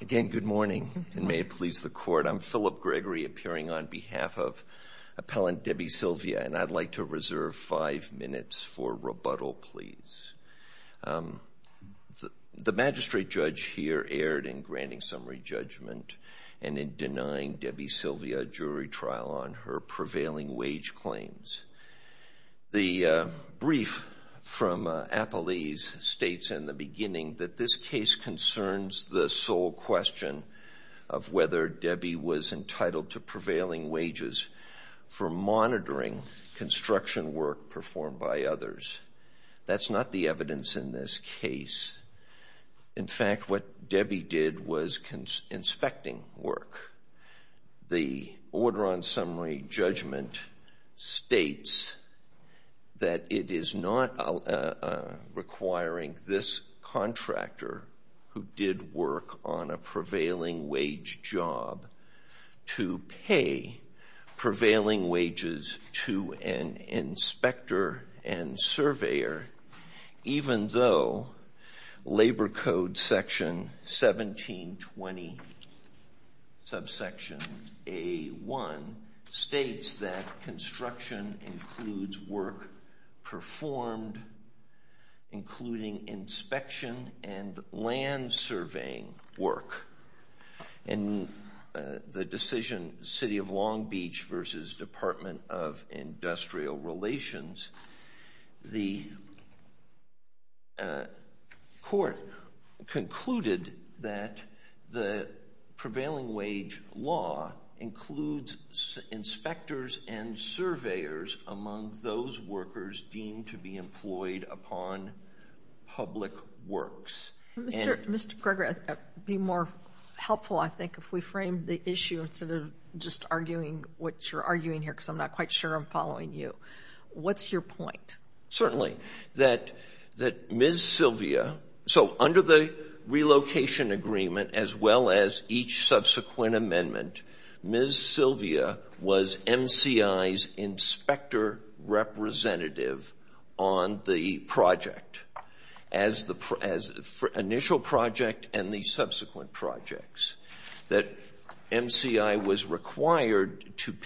Again, good morning, and may it please the Court. I'm Philip Gregory, appearing on behalf of Appellant Debbie Silvia, and I'd like to reserve five minutes for rebuttal, please. The Magistrate Judge here erred in granting summary judgment and in denying Debbie Silvia jury trial on her prevailing wage claims. The brief from Appellee's states in the beginning that this case concerns the sole question of whether Debbie was entitled to prevailing wages for monitoring construction work performed by others. That's not the evidence in this case. The order on summary judgment states that it is not requiring this contractor who did work on a prevailing wage job to pay prevailing wages to an inspector and surveyor, even though Labor Code section 1720, subsection A1, states that construction includes work performed, including inspection and land surveying work. In the decision City of Long Beach v. Department of Industrial Relations, the Court concluded that the prevailing wage law includes inspectors and surveyors among those workers deemed to be employed upon public works. Mr. Gregory, it would be more helpful, I think, if we framed the issue instead of just arguing here because I'm not quite sure I'm following you. What's your point? Certainly. That Ms. Silvia, so under the relocation agreement as well as each subsequent amendment, Ms. Silvia was MCI's inspector representative on the project, as the initial project and the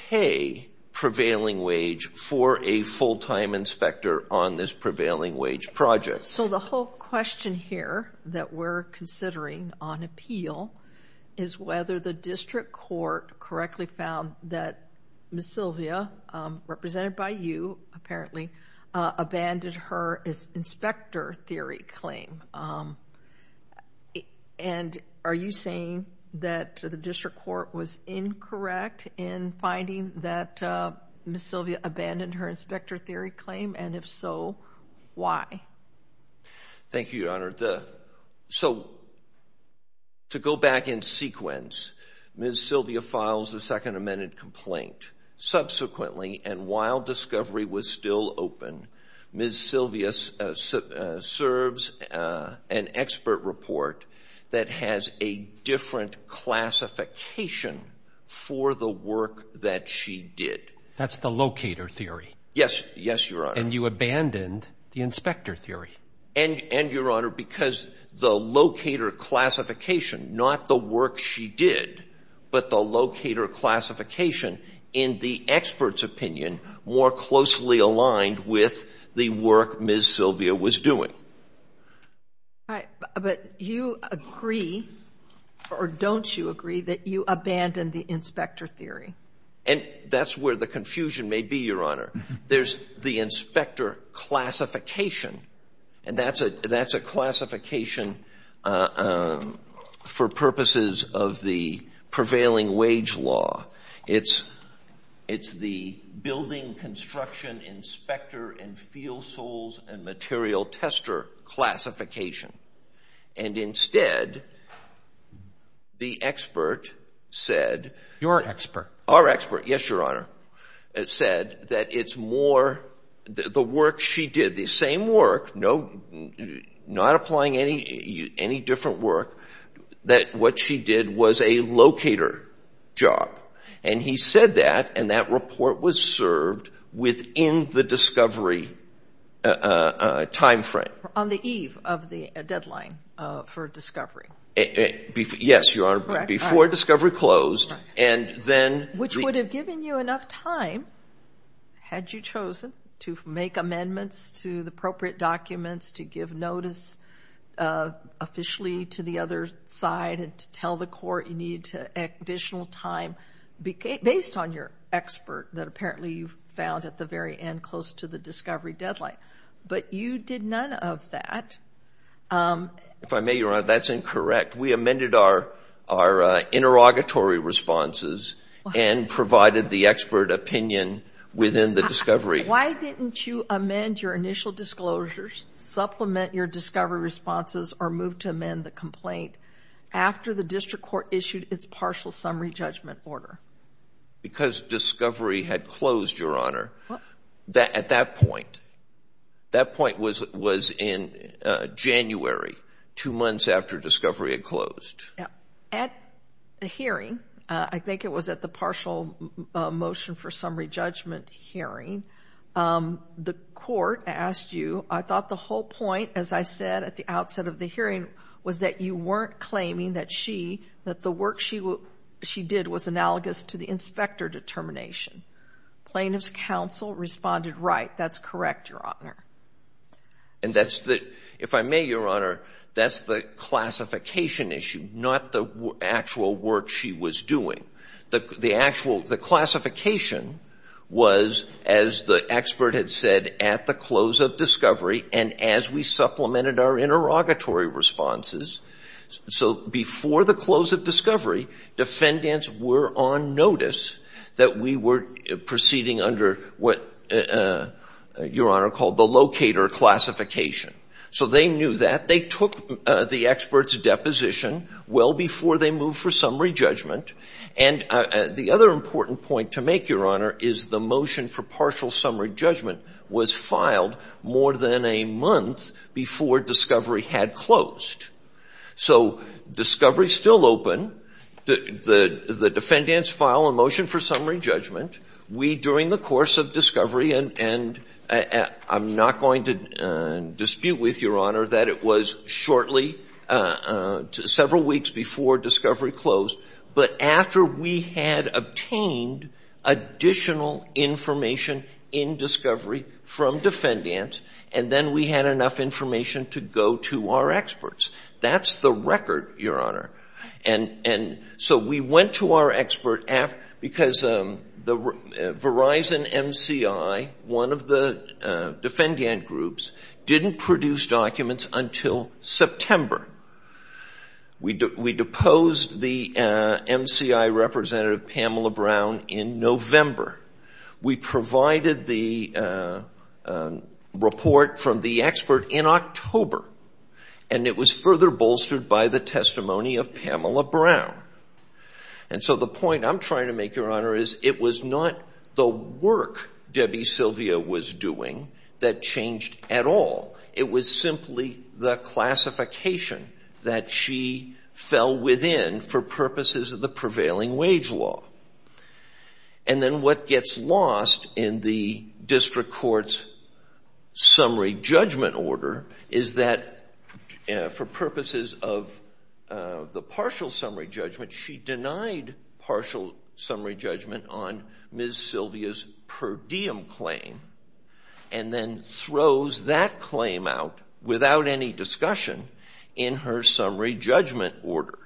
pay prevailing wage for a full-time inspector on this prevailing wage project. So the whole question here that we're considering on appeal is whether the district court correctly found that Ms. Silvia, represented by you apparently, abandoned her as inspector theory claim. And are you saying that the district court was incorrect in finding that Ms. Silvia abandoned her inspector theory claim? And if so, why? Thank you, Your Honor. So to go back in sequence, Ms. Silvia files the second amended complaint. Subsequently, and while discovery was still open, Ms. Silvia serves an expert report that has a different classification for the work that she did. That's the locator theory? Yes. Yes, Your Honor. And you abandoned the inspector theory? And, Your Honor, because the locator classification, not the work she did, but the locator classification, in the expert's opinion, more closely aligned with the work Ms. Silvia was doing. But you agree, or don't you agree, that you abandoned the inspector theory? And that's where the confusion may be, Your Honor. There's the inspector classification, and that's a classification for purposes of the prevailing wage law. It's the building construction inspector and field soles and material tester classification. And instead, the expert said... Your expert? Our expert, yes, Your Honor, said that it's more the work she did, the same work, not applying any different work, that what she did was a locator job. And he said that, and that report was served within the discovery time frame. On the eve of the deadline for discovery? Yes, Your Honor, before discovery closed. And then... Which would have given you enough time, had you chosen, to make amendments to the appropriate documents, to give notice officially to the other side, and to tell the court you needed additional time, based on your expert that apparently you found at the very end, close to the discovery deadline. But you did none of that. If I may, Your Honor, that's incorrect. We amended our interrogatory responses and provided the expert opinion within the discovery. Why didn't you amend your initial disclosures, supplement your discovery responses, or move to amend the complaint after the district court issued its partial summary judgment order? Because discovery had closed, Your Honor, at that point. That point was in January, two months after discovery had closed. At the hearing, I think it was at the partial motion for summary judgment hearing, the court asked you, I thought the whole point, as I said at the outset of the hearing, was that you weren't claiming that the work she did was analogous to the inspector determination. Plaintiff's counsel responded, right, that's correct, Your Honor. If I may, Your Honor, that's the classification issue, not the actual work she was doing. The classification was, as the expert had said, at the close of discovery, and as we supplemented our interrogatory responses. So before the close of discovery, defendants were on notice that we were proceeding under what Your Honor called the locator classification. So they knew that. They took the expert's deposition well before they moved for summary judgment. And the other important point to make, Your Honor, is the motion for partial summary judgment was filed more than a month before discovery had closed. So discovery's still open. The defendants file a motion for summary judgment. We, during the course of discovery, and I'm not going to dispute with Your Honor that it was shortly, several weeks before discovery closed, but after we had obtained additional information in discovery from defendants, and then we had enough information to go to our experts. That's the record, Your Honor. And so we went to our expert because the Verizon MCI, one of the defendant groups, didn't produce documents until September. We deposed the the report from the expert in October, and it was further bolstered by the testimony of Pamela Brown. And so the point I'm trying to make, Your Honor, is it was not the work Debbie Sylvia was doing that changed at all. It was simply the classification that she fell within for purposes of the prevailing wage law. And then what gets lost in the district court's summary judgment order is that for purposes of the partial summary judgment, she denied partial summary judgment on Ms. Sylvia's per diem claim and then throws that claim out without any discussion in her summary judgment order.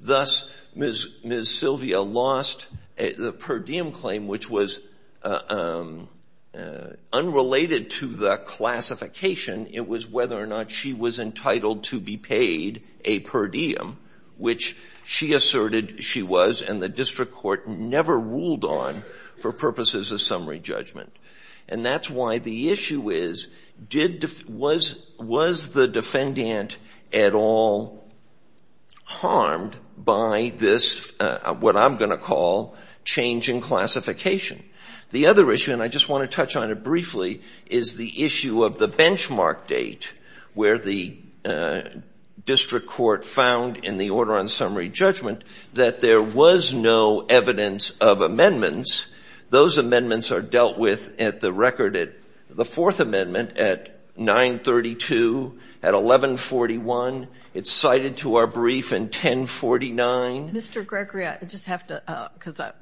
Thus, Ms. Sylvia lost the per diem claim, which was unrelated to the classification. It was whether or not she was entitled to be paid a per diem, which she asserted she was, and the district court never ruled on for purposes of summary judgment. And that's why the issue is, was the defendant at all harmed by this, what I'm going to call, change in classification? The other issue, and I just want to touch on it briefly, is the issue of the benchmark date where the district court found in the order on summary judgment that there was no evidence of amendments. Those amendments are dealt with at the record at the Fourth Amendment at 932, at 1141. It's cited to our brief in 1049. Mr. Gregory, I just have to, because I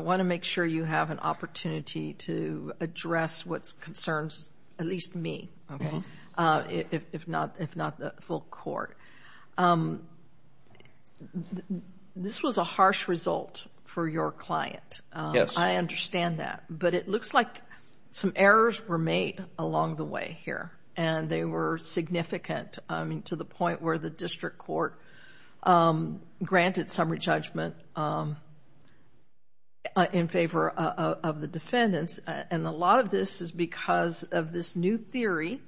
want to make sure you have an opportunity to address what concerns at least me, if not the full court. This was a harsh result for your client. I understand that, but it looks like some errors were made along the way here, and they were significant, I mean, to the point where the district court granted summary judgment in favor of the defendants. And a lot of this is because of this new theory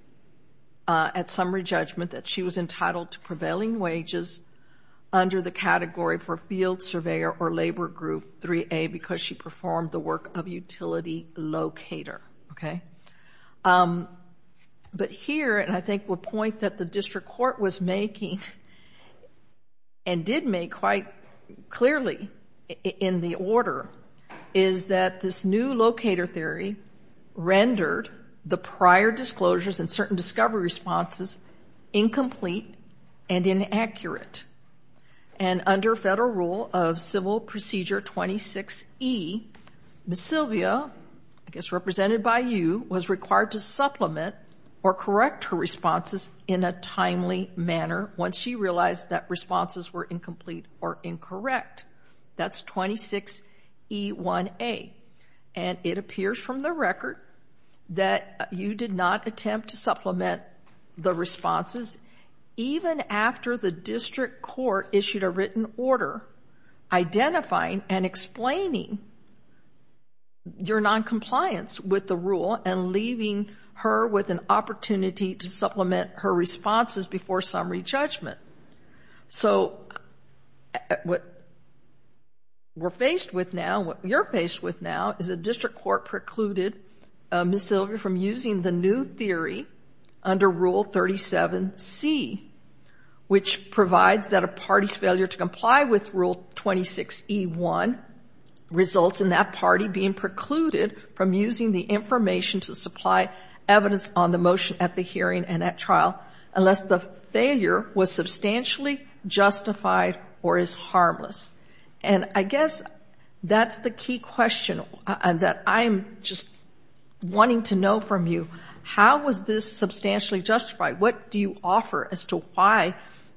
at summary judgment that she was entitled to prevailing wages under the category for field surveyor or labor group 3A because she performed the work of utility locator, okay? But here, and I think the point that the district court was making, and did make quite clearly in the order, is that this new locator theory rendered the prior disclosures and certain discovery responses incomplete and inaccurate. And under federal rule of Civil Procedure 26E, Ms. Sylvia, I guess represented by you, was required to supplement or correct her responses in a timely manner once she realized that responses were incomplete or incorrect. That's 26E1A. And it appears from the record that you did not attempt to supplement the responses even after the district court issued a written order identifying and explaining your noncompliance with the rule and leaving her with an opportunity to supplement her responses before summary judgment. So what we're faced with now, what you're faced with now, is the district court precluded Ms. Sylvia from using the new theory under rule 37C, which provides that a party's failure to comply with rule 26E1 results in that party being precluded from using the information to supply evidence on the motion at the hearing and at trial unless the failure was substantially justified or is harmless. And I guess that's the key question that I'm just wanting to know from you. How was this substantially justified? What do you offer as to why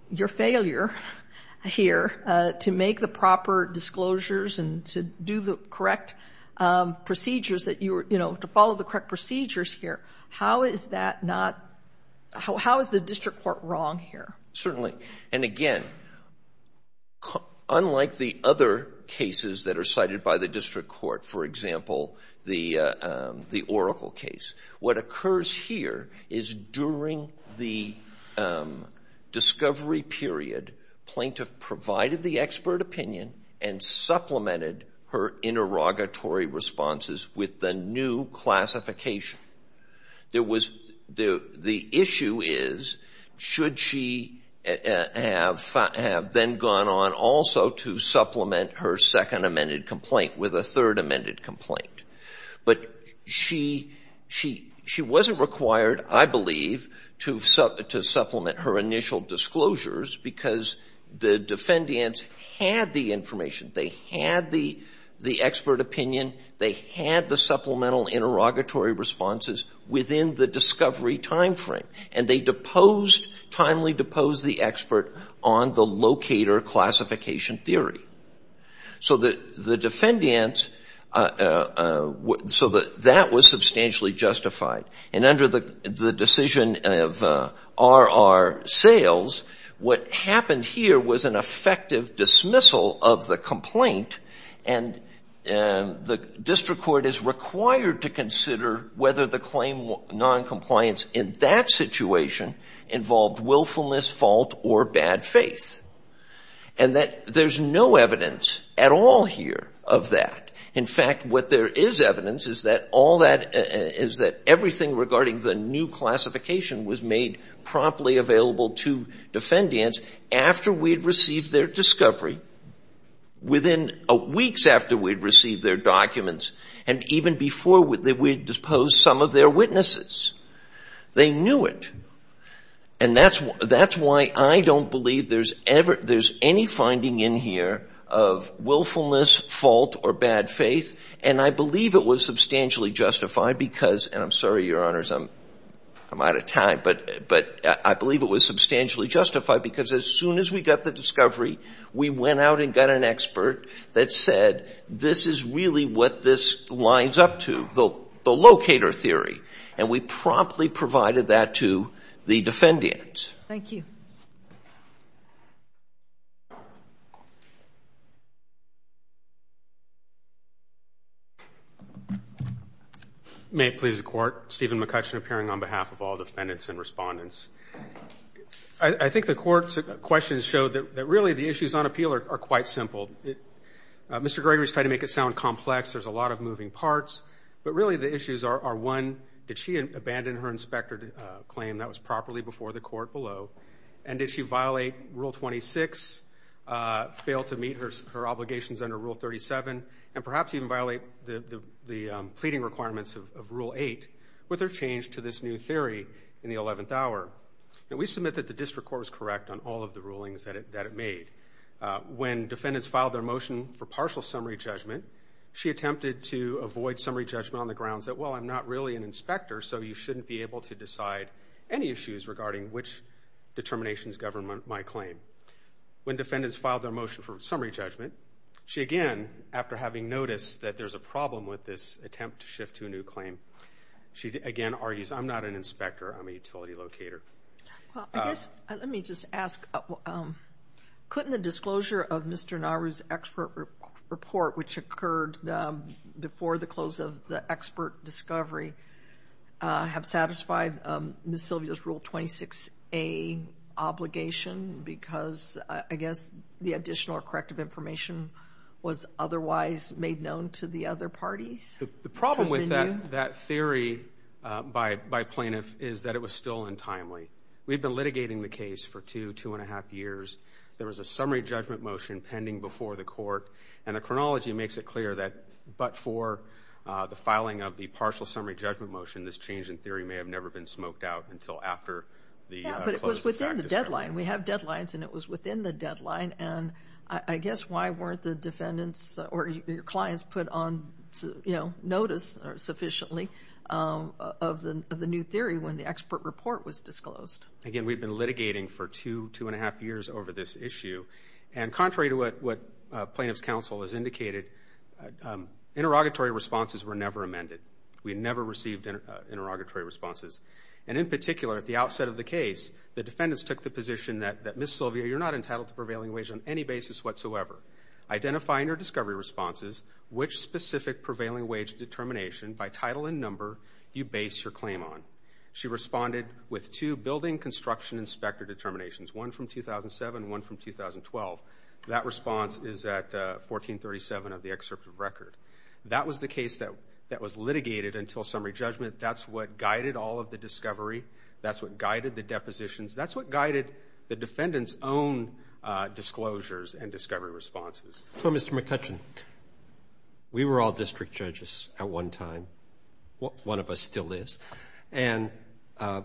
your failure here to make the proper disclosures and to do the correct procedures that you were, you know, to follow the correct procedures here, how is that not, how is the district court wrong here? Certainly. And again, unlike the other cases that are cited by the district court, for example, the Oracle case, what occurs here is during the discovery period, plaintiff provided the expert opinion and supplemented her interrogatory responses with the new classification. There was, the issue is, should she have then gone on also to supplement her second amended complaint with a third amended complaint? But she wasn't required, I believe, to supplement her initial disclosures because the defendants had the information, they had the expert opinion, they had the supplemental interrogatory responses within the discovery time frame. And they deposed, timely deposed the expert on the locator classification theory. So the defendants, so that was substantially justified. And under the decision of R.R. Sales, what happened here was an effective dismissal of the complaint. And the district court is required to consider whether the claim noncompliance in that situation involved willfulness, fault, or bad faith. And that there's no evidence at all here of that. In fact, what there is evidence is that all that, is that everything regarding the new classification was made promptly available to defendants after we'd received their discovery, within weeks after we'd received their documents, and even before we'd deposed some of their witnesses. They knew it. And that's why I don't believe there's any finding in here of willfulness, fault, or bad faith. And I believe it was substantially justified because, and I'm out of time, but I believe it was substantially justified because as soon as we got the discovery, we went out and got an expert that said, this is really what this lines up to, the locator theory. And we promptly provided that to the defendants. Thank you. May it please the court, Stephen McCutcheon appearing on behalf of all defendants and respondents. I think the court's questions show that really the issues on appeal are quite simple. Mr. Gregory's tried to make it sound complex, there's a lot of moving parts, but really the issues are, one, did she abandon her inspector claim that was properly before the court below, and did she violate Rule 26, fail to meet her obligations under Rule 37, and perhaps even violate the pleading requirements of Rule 8 with her change to this new theory in the 11th hour. We submit that the district court was correct on all of the rulings that it made. When defendants filed their motion for partial summary judgment, she attempted to avoid summary judgment on the grounds that, well, I'm not really an which determinations govern my claim. When defendants filed their motion for summary judgment, she again, after having noticed that there's a problem with this attempt to shift to a new claim, she again argues, I'm not an inspector, I'm a utility locator. Well, let me just ask, couldn't the disclosure of Mr. Nauru's expert report, which occurred before the close of the expert discovery, have satisfied Ms. Sylvia's Rule 26A obligation, because I guess the additional corrective information was otherwise made known to the other parties? The problem with that theory by plaintiff is that it was still untimely. We've been litigating the case for two, two and a half years. There was a summary judgment motion pending before the court, and the chronology makes it clear that but for the filing of the partial summary judgment motion, this change in theory may have never been smoked out until after the close of the fact discovery. Yeah, but it was within the deadline. We have deadlines, and it was within the deadline, and I guess why weren't the defendants or your clients put on, you know, notice sufficiently of the new theory when the expert report was disclosed? Again, we've been litigating for two, two and a half years over this issue, and contrary to what plaintiff's counsel has indicated, interrogatory responses were never amended. We never received interrogatory responses, and in particular, at the outset of the case, the defendants took the position that Ms. Sylvia, you're not entitled to prevailing wage on any basis whatsoever. Identifying her discovery responses, which specific prevailing wage determination by title and number you base your claim on. She responded with two building construction inspector determinations, one from 2007, one from 2012. That response is at 1437 of the excerpt of record. That was the case that was litigated until summary judgment. That's what guided all of the discovery. That's what guided the depositions. That's what guided the defendants' own disclosures and discovery responses. So, Mr. McCutcheon, we were all district judges at one time. One of us still is. And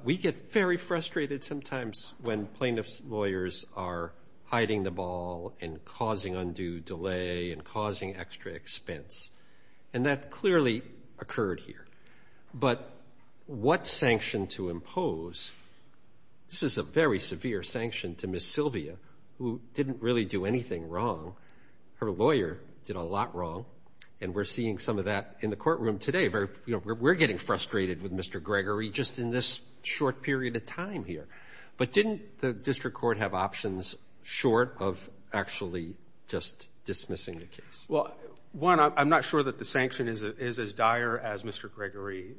we get very frustrated sometimes when plaintiff's lawyers are hiding the ball and causing undue delay and causing extra expense. And that clearly occurred here. But what sanction to impose, this is a very severe sanction to Ms. Sylvia, who didn't really do anything wrong. Her lawyer did a lot wrong. And we're seeing some of that in the courtroom today. We're getting frustrated with Mr. Gregory just in this short period of time here. But didn't the district court have options short of actually just dismissing the case? Well, one, I'm not sure that the sanction is as dire as Mr. Gregory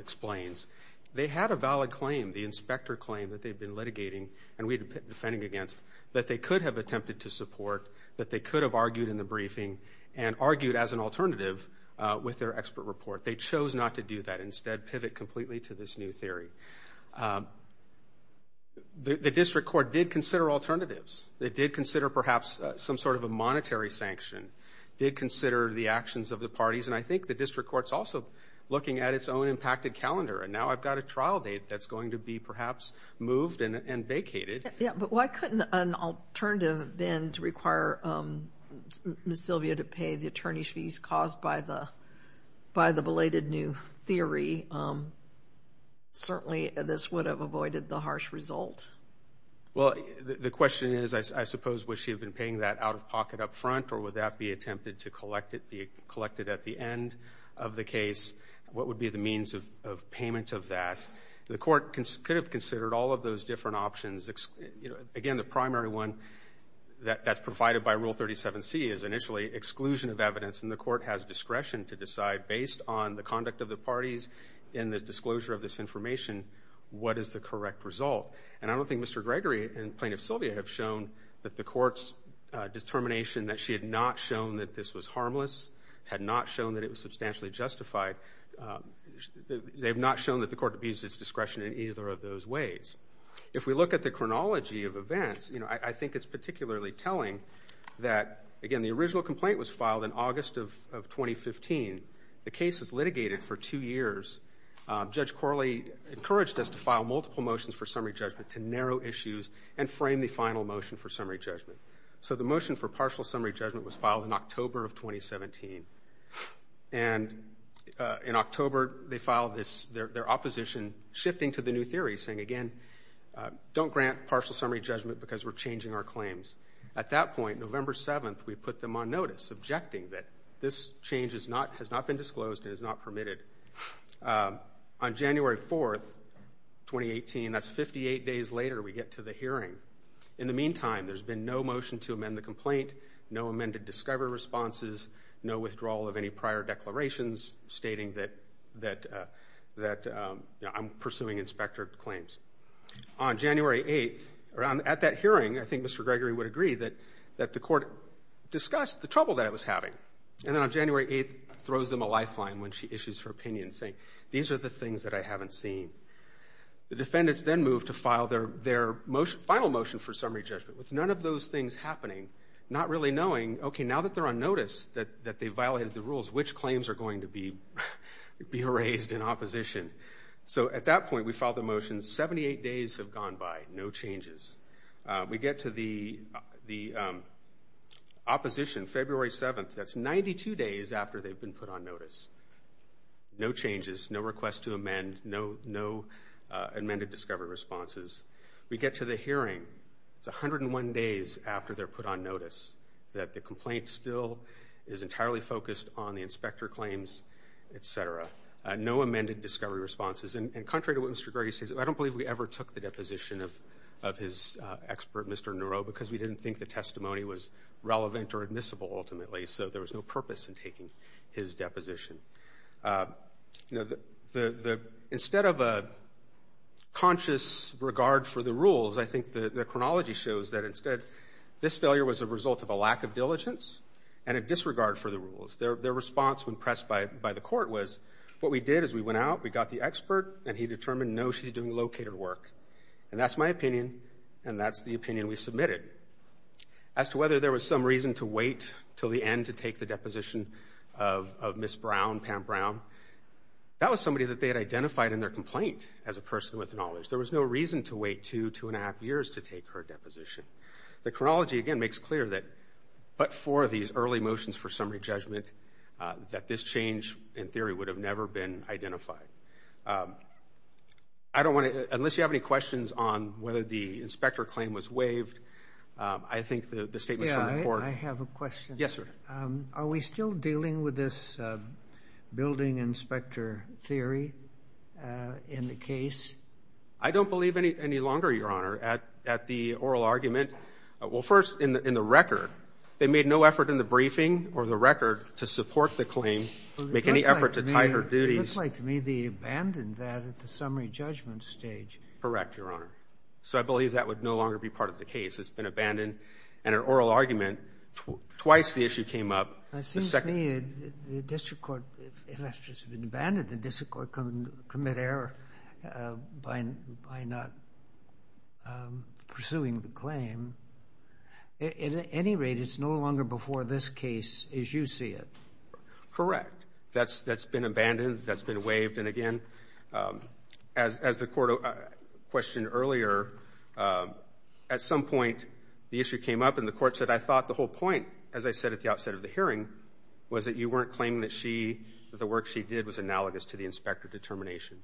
explains. They had a valid claim, the inspector claim that they'd been litigating and we'd been defending against that they could have attempted to support, that they could have argued in the briefing and argued as an alternative with their expert report. They chose not to do that. Instead, pivot completely to this new theory. The district court did consider alternatives. They did consider perhaps some sort of a monetary sanction. Did consider the actions of the parties. And I think the district court's also looking at its own impacted calendar. And now I've got a trial date that's going to be perhaps moved and vacated. Yeah, but why couldn't an alternative then to require Ms. Sylvia to pay the attorney's fees caused by the belated new theory? Certainly, this would have avoided the harsh result. Well, the question is, I suppose, would she have been paying that out of pocket up front or would that be attempted to be at the end of the case? What would be the means of payment of that? The court could have considered all of those different options. Again, the primary one that's provided by Rule 37C is initially exclusion of evidence. And the court has discretion to decide based on the conduct of the parties in the disclosure of this information what is the correct result. And I don't think Mr. Gregory and Plaintiff Sylvia have shown that the court's determination that she had not shown that this was harmless, had not shown that it was substantially justified. They've not shown that the court abused its discretion in either of those ways. If we look at the chronology of events, I think it's particularly telling that, again, the original complaint was filed in August of 2015. The case is litigated for two years. Judge Corley encouraged us to file multiple motions for summary judgment to narrow issues and frame the final motion for summary judgment. So the motion for partial summary judgment was filed in October of 2017. And in October, they filed their opposition, shifting to the new theory, saying, again, don't grant partial summary judgment because we're changing our claims. At that point, November 7th, we put them on notice, objecting that this change has not been disclosed and is not permitted. On January 4th, 2018, that's 58 days later we get to the hearing. In the meantime, there's been no motion to amend the complaint, no amended discovery responses, no withdrawal of any prior declarations stating that I'm pursuing inspector claims. On January 8th, at that hearing, I think Mr. Gregory would agree that the court discussed the trouble that it was having. And then on January 8th, throws them a lifeline when she issues her opinion, saying, these are the things that I haven't seen. The defendants then move to file their final motion for summary judgment with none of those things happening, not really knowing, OK, now that they're on notice that they violated the rules, which claims are going to be raised in opposition. So at that point, we filed the motion. 78 days have gone by, no changes. We get to the opposition, February 7th. That's 92 days after they've been put on notice. No changes, no request to amend, no amended discovery responses. We get to the hearing. It's 101 days after they're put on notice that the complaint still is entirely focused on the inspector claims, et cetera. No amended discovery responses. And contrary to what Mr. Gregory says, I don't believe we ever took the deposition of his expert, Mr. Neuro, because we didn't think the testimony was relevant or admissible, ultimately. So there was no purpose in taking his deposition. Instead of a conscious regard for the rules, I think the chronology shows that this failure was a result of a lack of diligence and a disregard for the rules. Their response when pressed by the court was, what we did is we went out, we got the expert, and he determined, no, she's doing located work. And that's my opinion, and that's the opinion we submitted. As to whether there was some reason to wait till the end to take the deposition of Ms. Brown, Pam Brown, that was somebody that they had identified in their complaint as a person with knowledge. There was no reason to wait two, two and a half years to take her deposition. The chronology, again, makes clear that but for these early motions for summary judgment, that this change in theory would have never been identified. I don't want to, unless you have any questions on whether the inspector claim was waived, I think the statement from the court. Yeah, I have a question. Yes, sir. Are we still dealing with this building inspector theory in the case? I don't believe any longer, Your Honor, at the oral argument. Well, first, in the record, they made no effort in the briefing or the record to support the claim, make any effort to tie her duties. It looks like to me they abandoned that at the summary judgment stage. Correct, Your Honor. I believe that would no longer be part of the case. It's been abandoned at an oral argument. Twice the issue came up. It seems to me the district court, unless it's been abandoned, the district court can commit error by not pursuing the claim. At any rate, it's no longer before this case as you see it. Correct. That's been abandoned. That's been waived. Again, as the court questioned earlier, at some point, the issue came up and the court said, I thought the whole point, as I said at the outset of the hearing, was that you weren't claiming that the work she did was analogous to the inspector determination.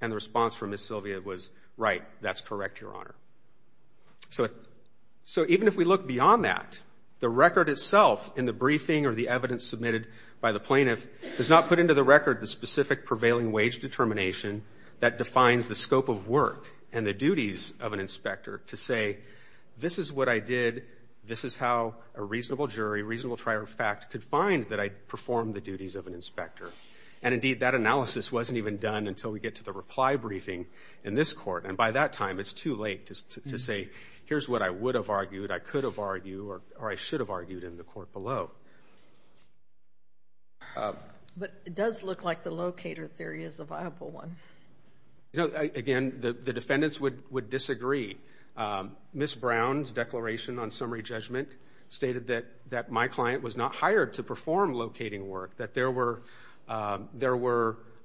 And the response from Ms. Sylvia was, right, that's correct, Your Honor. So even if we look beyond that, the record itself in the briefing or the evidence submitted by the plaintiff does not put into the record the specific prevailing wage determination that defines the scope of work and the duties of an inspector to say, this is what I did, this is how a reasonable jury, a reasonable trial of fact could find that I performed the duties of an inspector. And indeed, that analysis wasn't even done until we get to the reply briefing in this court. And by that time, it's too late to say, here's what I would have argued, I could have argued, or I should have argued in the court below. But it does look like the locator theory is a viable one. You know, again, the defendants would disagree. Ms. Brown's declaration on summary judgment stated that my client was not hired to perform locating work, that there were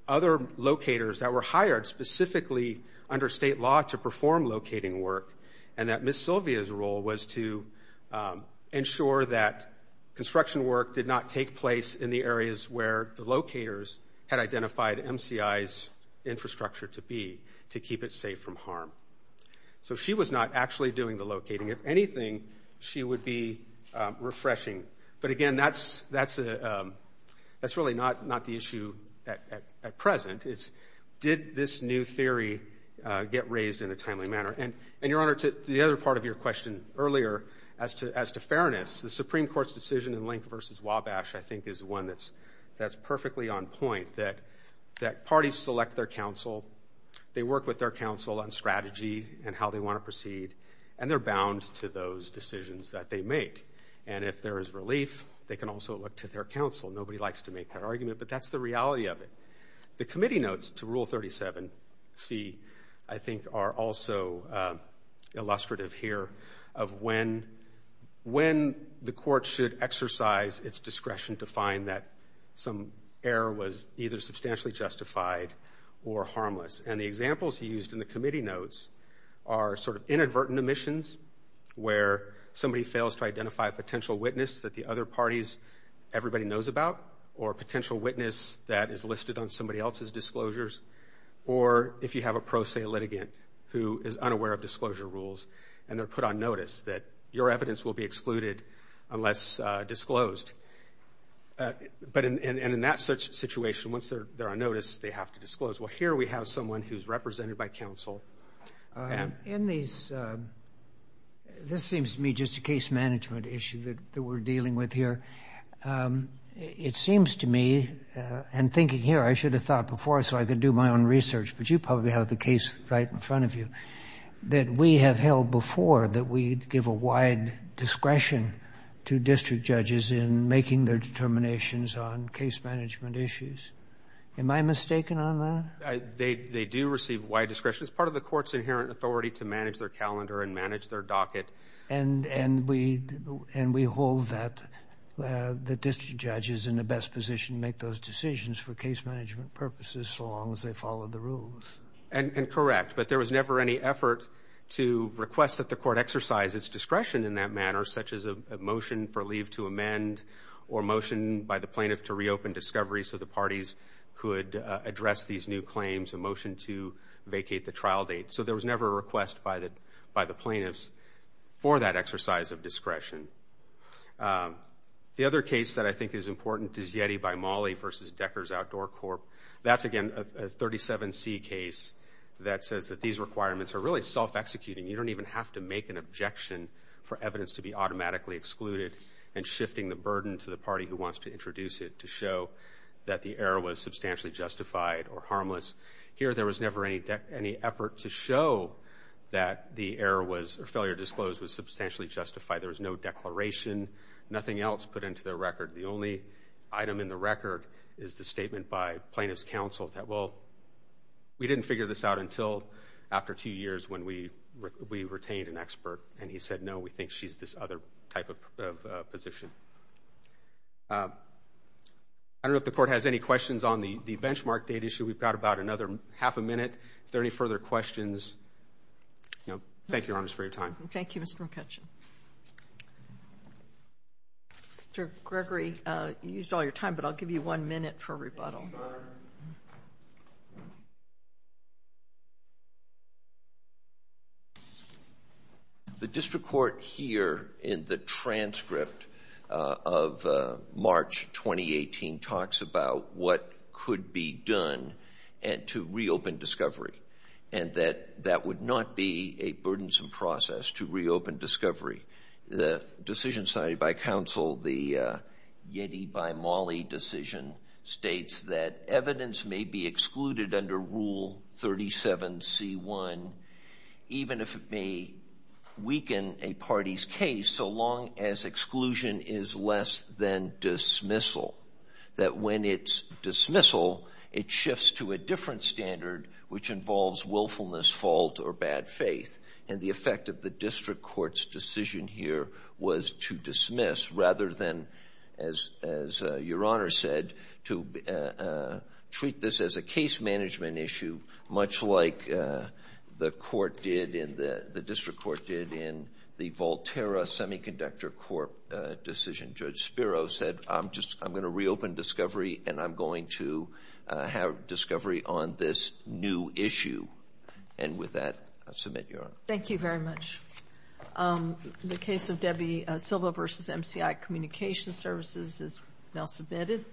other locators that were hired specifically under state law to perform locating work, and that Ms. Sylvia's role was to ensure that construction work did not take place in the areas where the locators had identified MCI's infrastructure to be to keep it safe from harm. So she was not actually doing the locating. If anything, she would be refreshing. But again, that's really not the issue at present. It's, did this new theory get raised in a timely manner? And Your Honor, to the other part of your question earlier, as to fairness, the Supreme Court's decision in Link v. Wabash, I think, is one that's perfectly on point, that parties select their counsel, they work with their counsel on strategy and how they want to proceed, and they're bound to those decisions that they make. And if there is relief, they can also look to their counsel. Nobody likes to make that argument, but that's the reality of it. The committee notes to Rule 37c, I think, are also illustrative here of when the court should exercise its discretion to find that some error was either substantially justified or harmless. And the examples used in the committee notes are sort of inadvertent omissions, where somebody fails to identify a potential witness that the other parties, everybody knows about, or a potential witness that is listed on somebody else's disclosures, or if you have a pro se litigant who is unaware of disclosure rules, and they're put on notice that your evidence will be excluded unless disclosed. But in that situation, once they're on notice, they have to disclose. Well, here we have someone who's represented by counsel. And in these, this seems to me just a case management issue that we're dealing with here. It seems to me, and thinking here, I should have thought before so I could do my own research, but you probably have the case right in front of you, that we have held before that we give a wide discretion to district judges in making their determinations on case management issues. Am I mistaken on that? They do receive wide discretion. It's part of the court's inherent authority to manage their calendar and manage their docket. And we hold that the district judge is in the best position to make those decisions for case management purposes so long as they follow the rules. And correct. But there was never any effort to request that the court exercise its discretion in that manner, such as a motion for leave to amend or motion by the plaintiff to reopen discovery so the parties could address these new claims, a motion to vacate the trial date. There was never a request by the plaintiffs for that exercise of discretion. The other case that I think is important is Yeti by Mollie versus Decker's Outdoor Corp. That's, again, a 37C case that says that these requirements are really self-executing. You don't even have to make an objection for evidence to be automatically excluded and shifting the burden to the party who wants to introduce it to show that the error was substantially justified or harmless. Here, there was never any effort to show that the error was or failure to disclose was substantially justified. There was no declaration, nothing else put into the record. The only item in the record is the statement by plaintiff's counsel that, well, we didn't figure this out until after two years when we retained an expert. And he said, no, we think she's this other type of position. I don't know if the court has any questions on the benchmark date issue. We've got about another half a minute. If there are any further questions, thank you, Your Honor, for your time. Thank you, Mr. McCutcheon. Mr. Gregory, you used all your time, but I'll give you one minute for rebuttal. Your Honor, the district court here in the transcript of March 2018 talks about what could be done to reopen discovery and that that would not be a burdensome process to reopen discovery. The decision cited by counsel, the Yeti by Mali decision, states that evidence may be excluded under Rule 37C1 even if it may weaken a party's case so long as exclusion is less than dismissal. That when it's dismissal, it shifts to a different standard which involves willfulness, fault, or bad faith. And the effect of the district court's decision here was to dismiss rather than, as Your Honor said, to treat this as a case management issue, much like the district court did in the Volterra Semiconductor Court decision. Judge Spiro said, I'm just going to reopen discovery and I'm going to have discovery on this new issue. And with that, I'll submit, Your Honor. Thank you very much. The case of Debbie Silva v. MCI Communications Services is now submitted.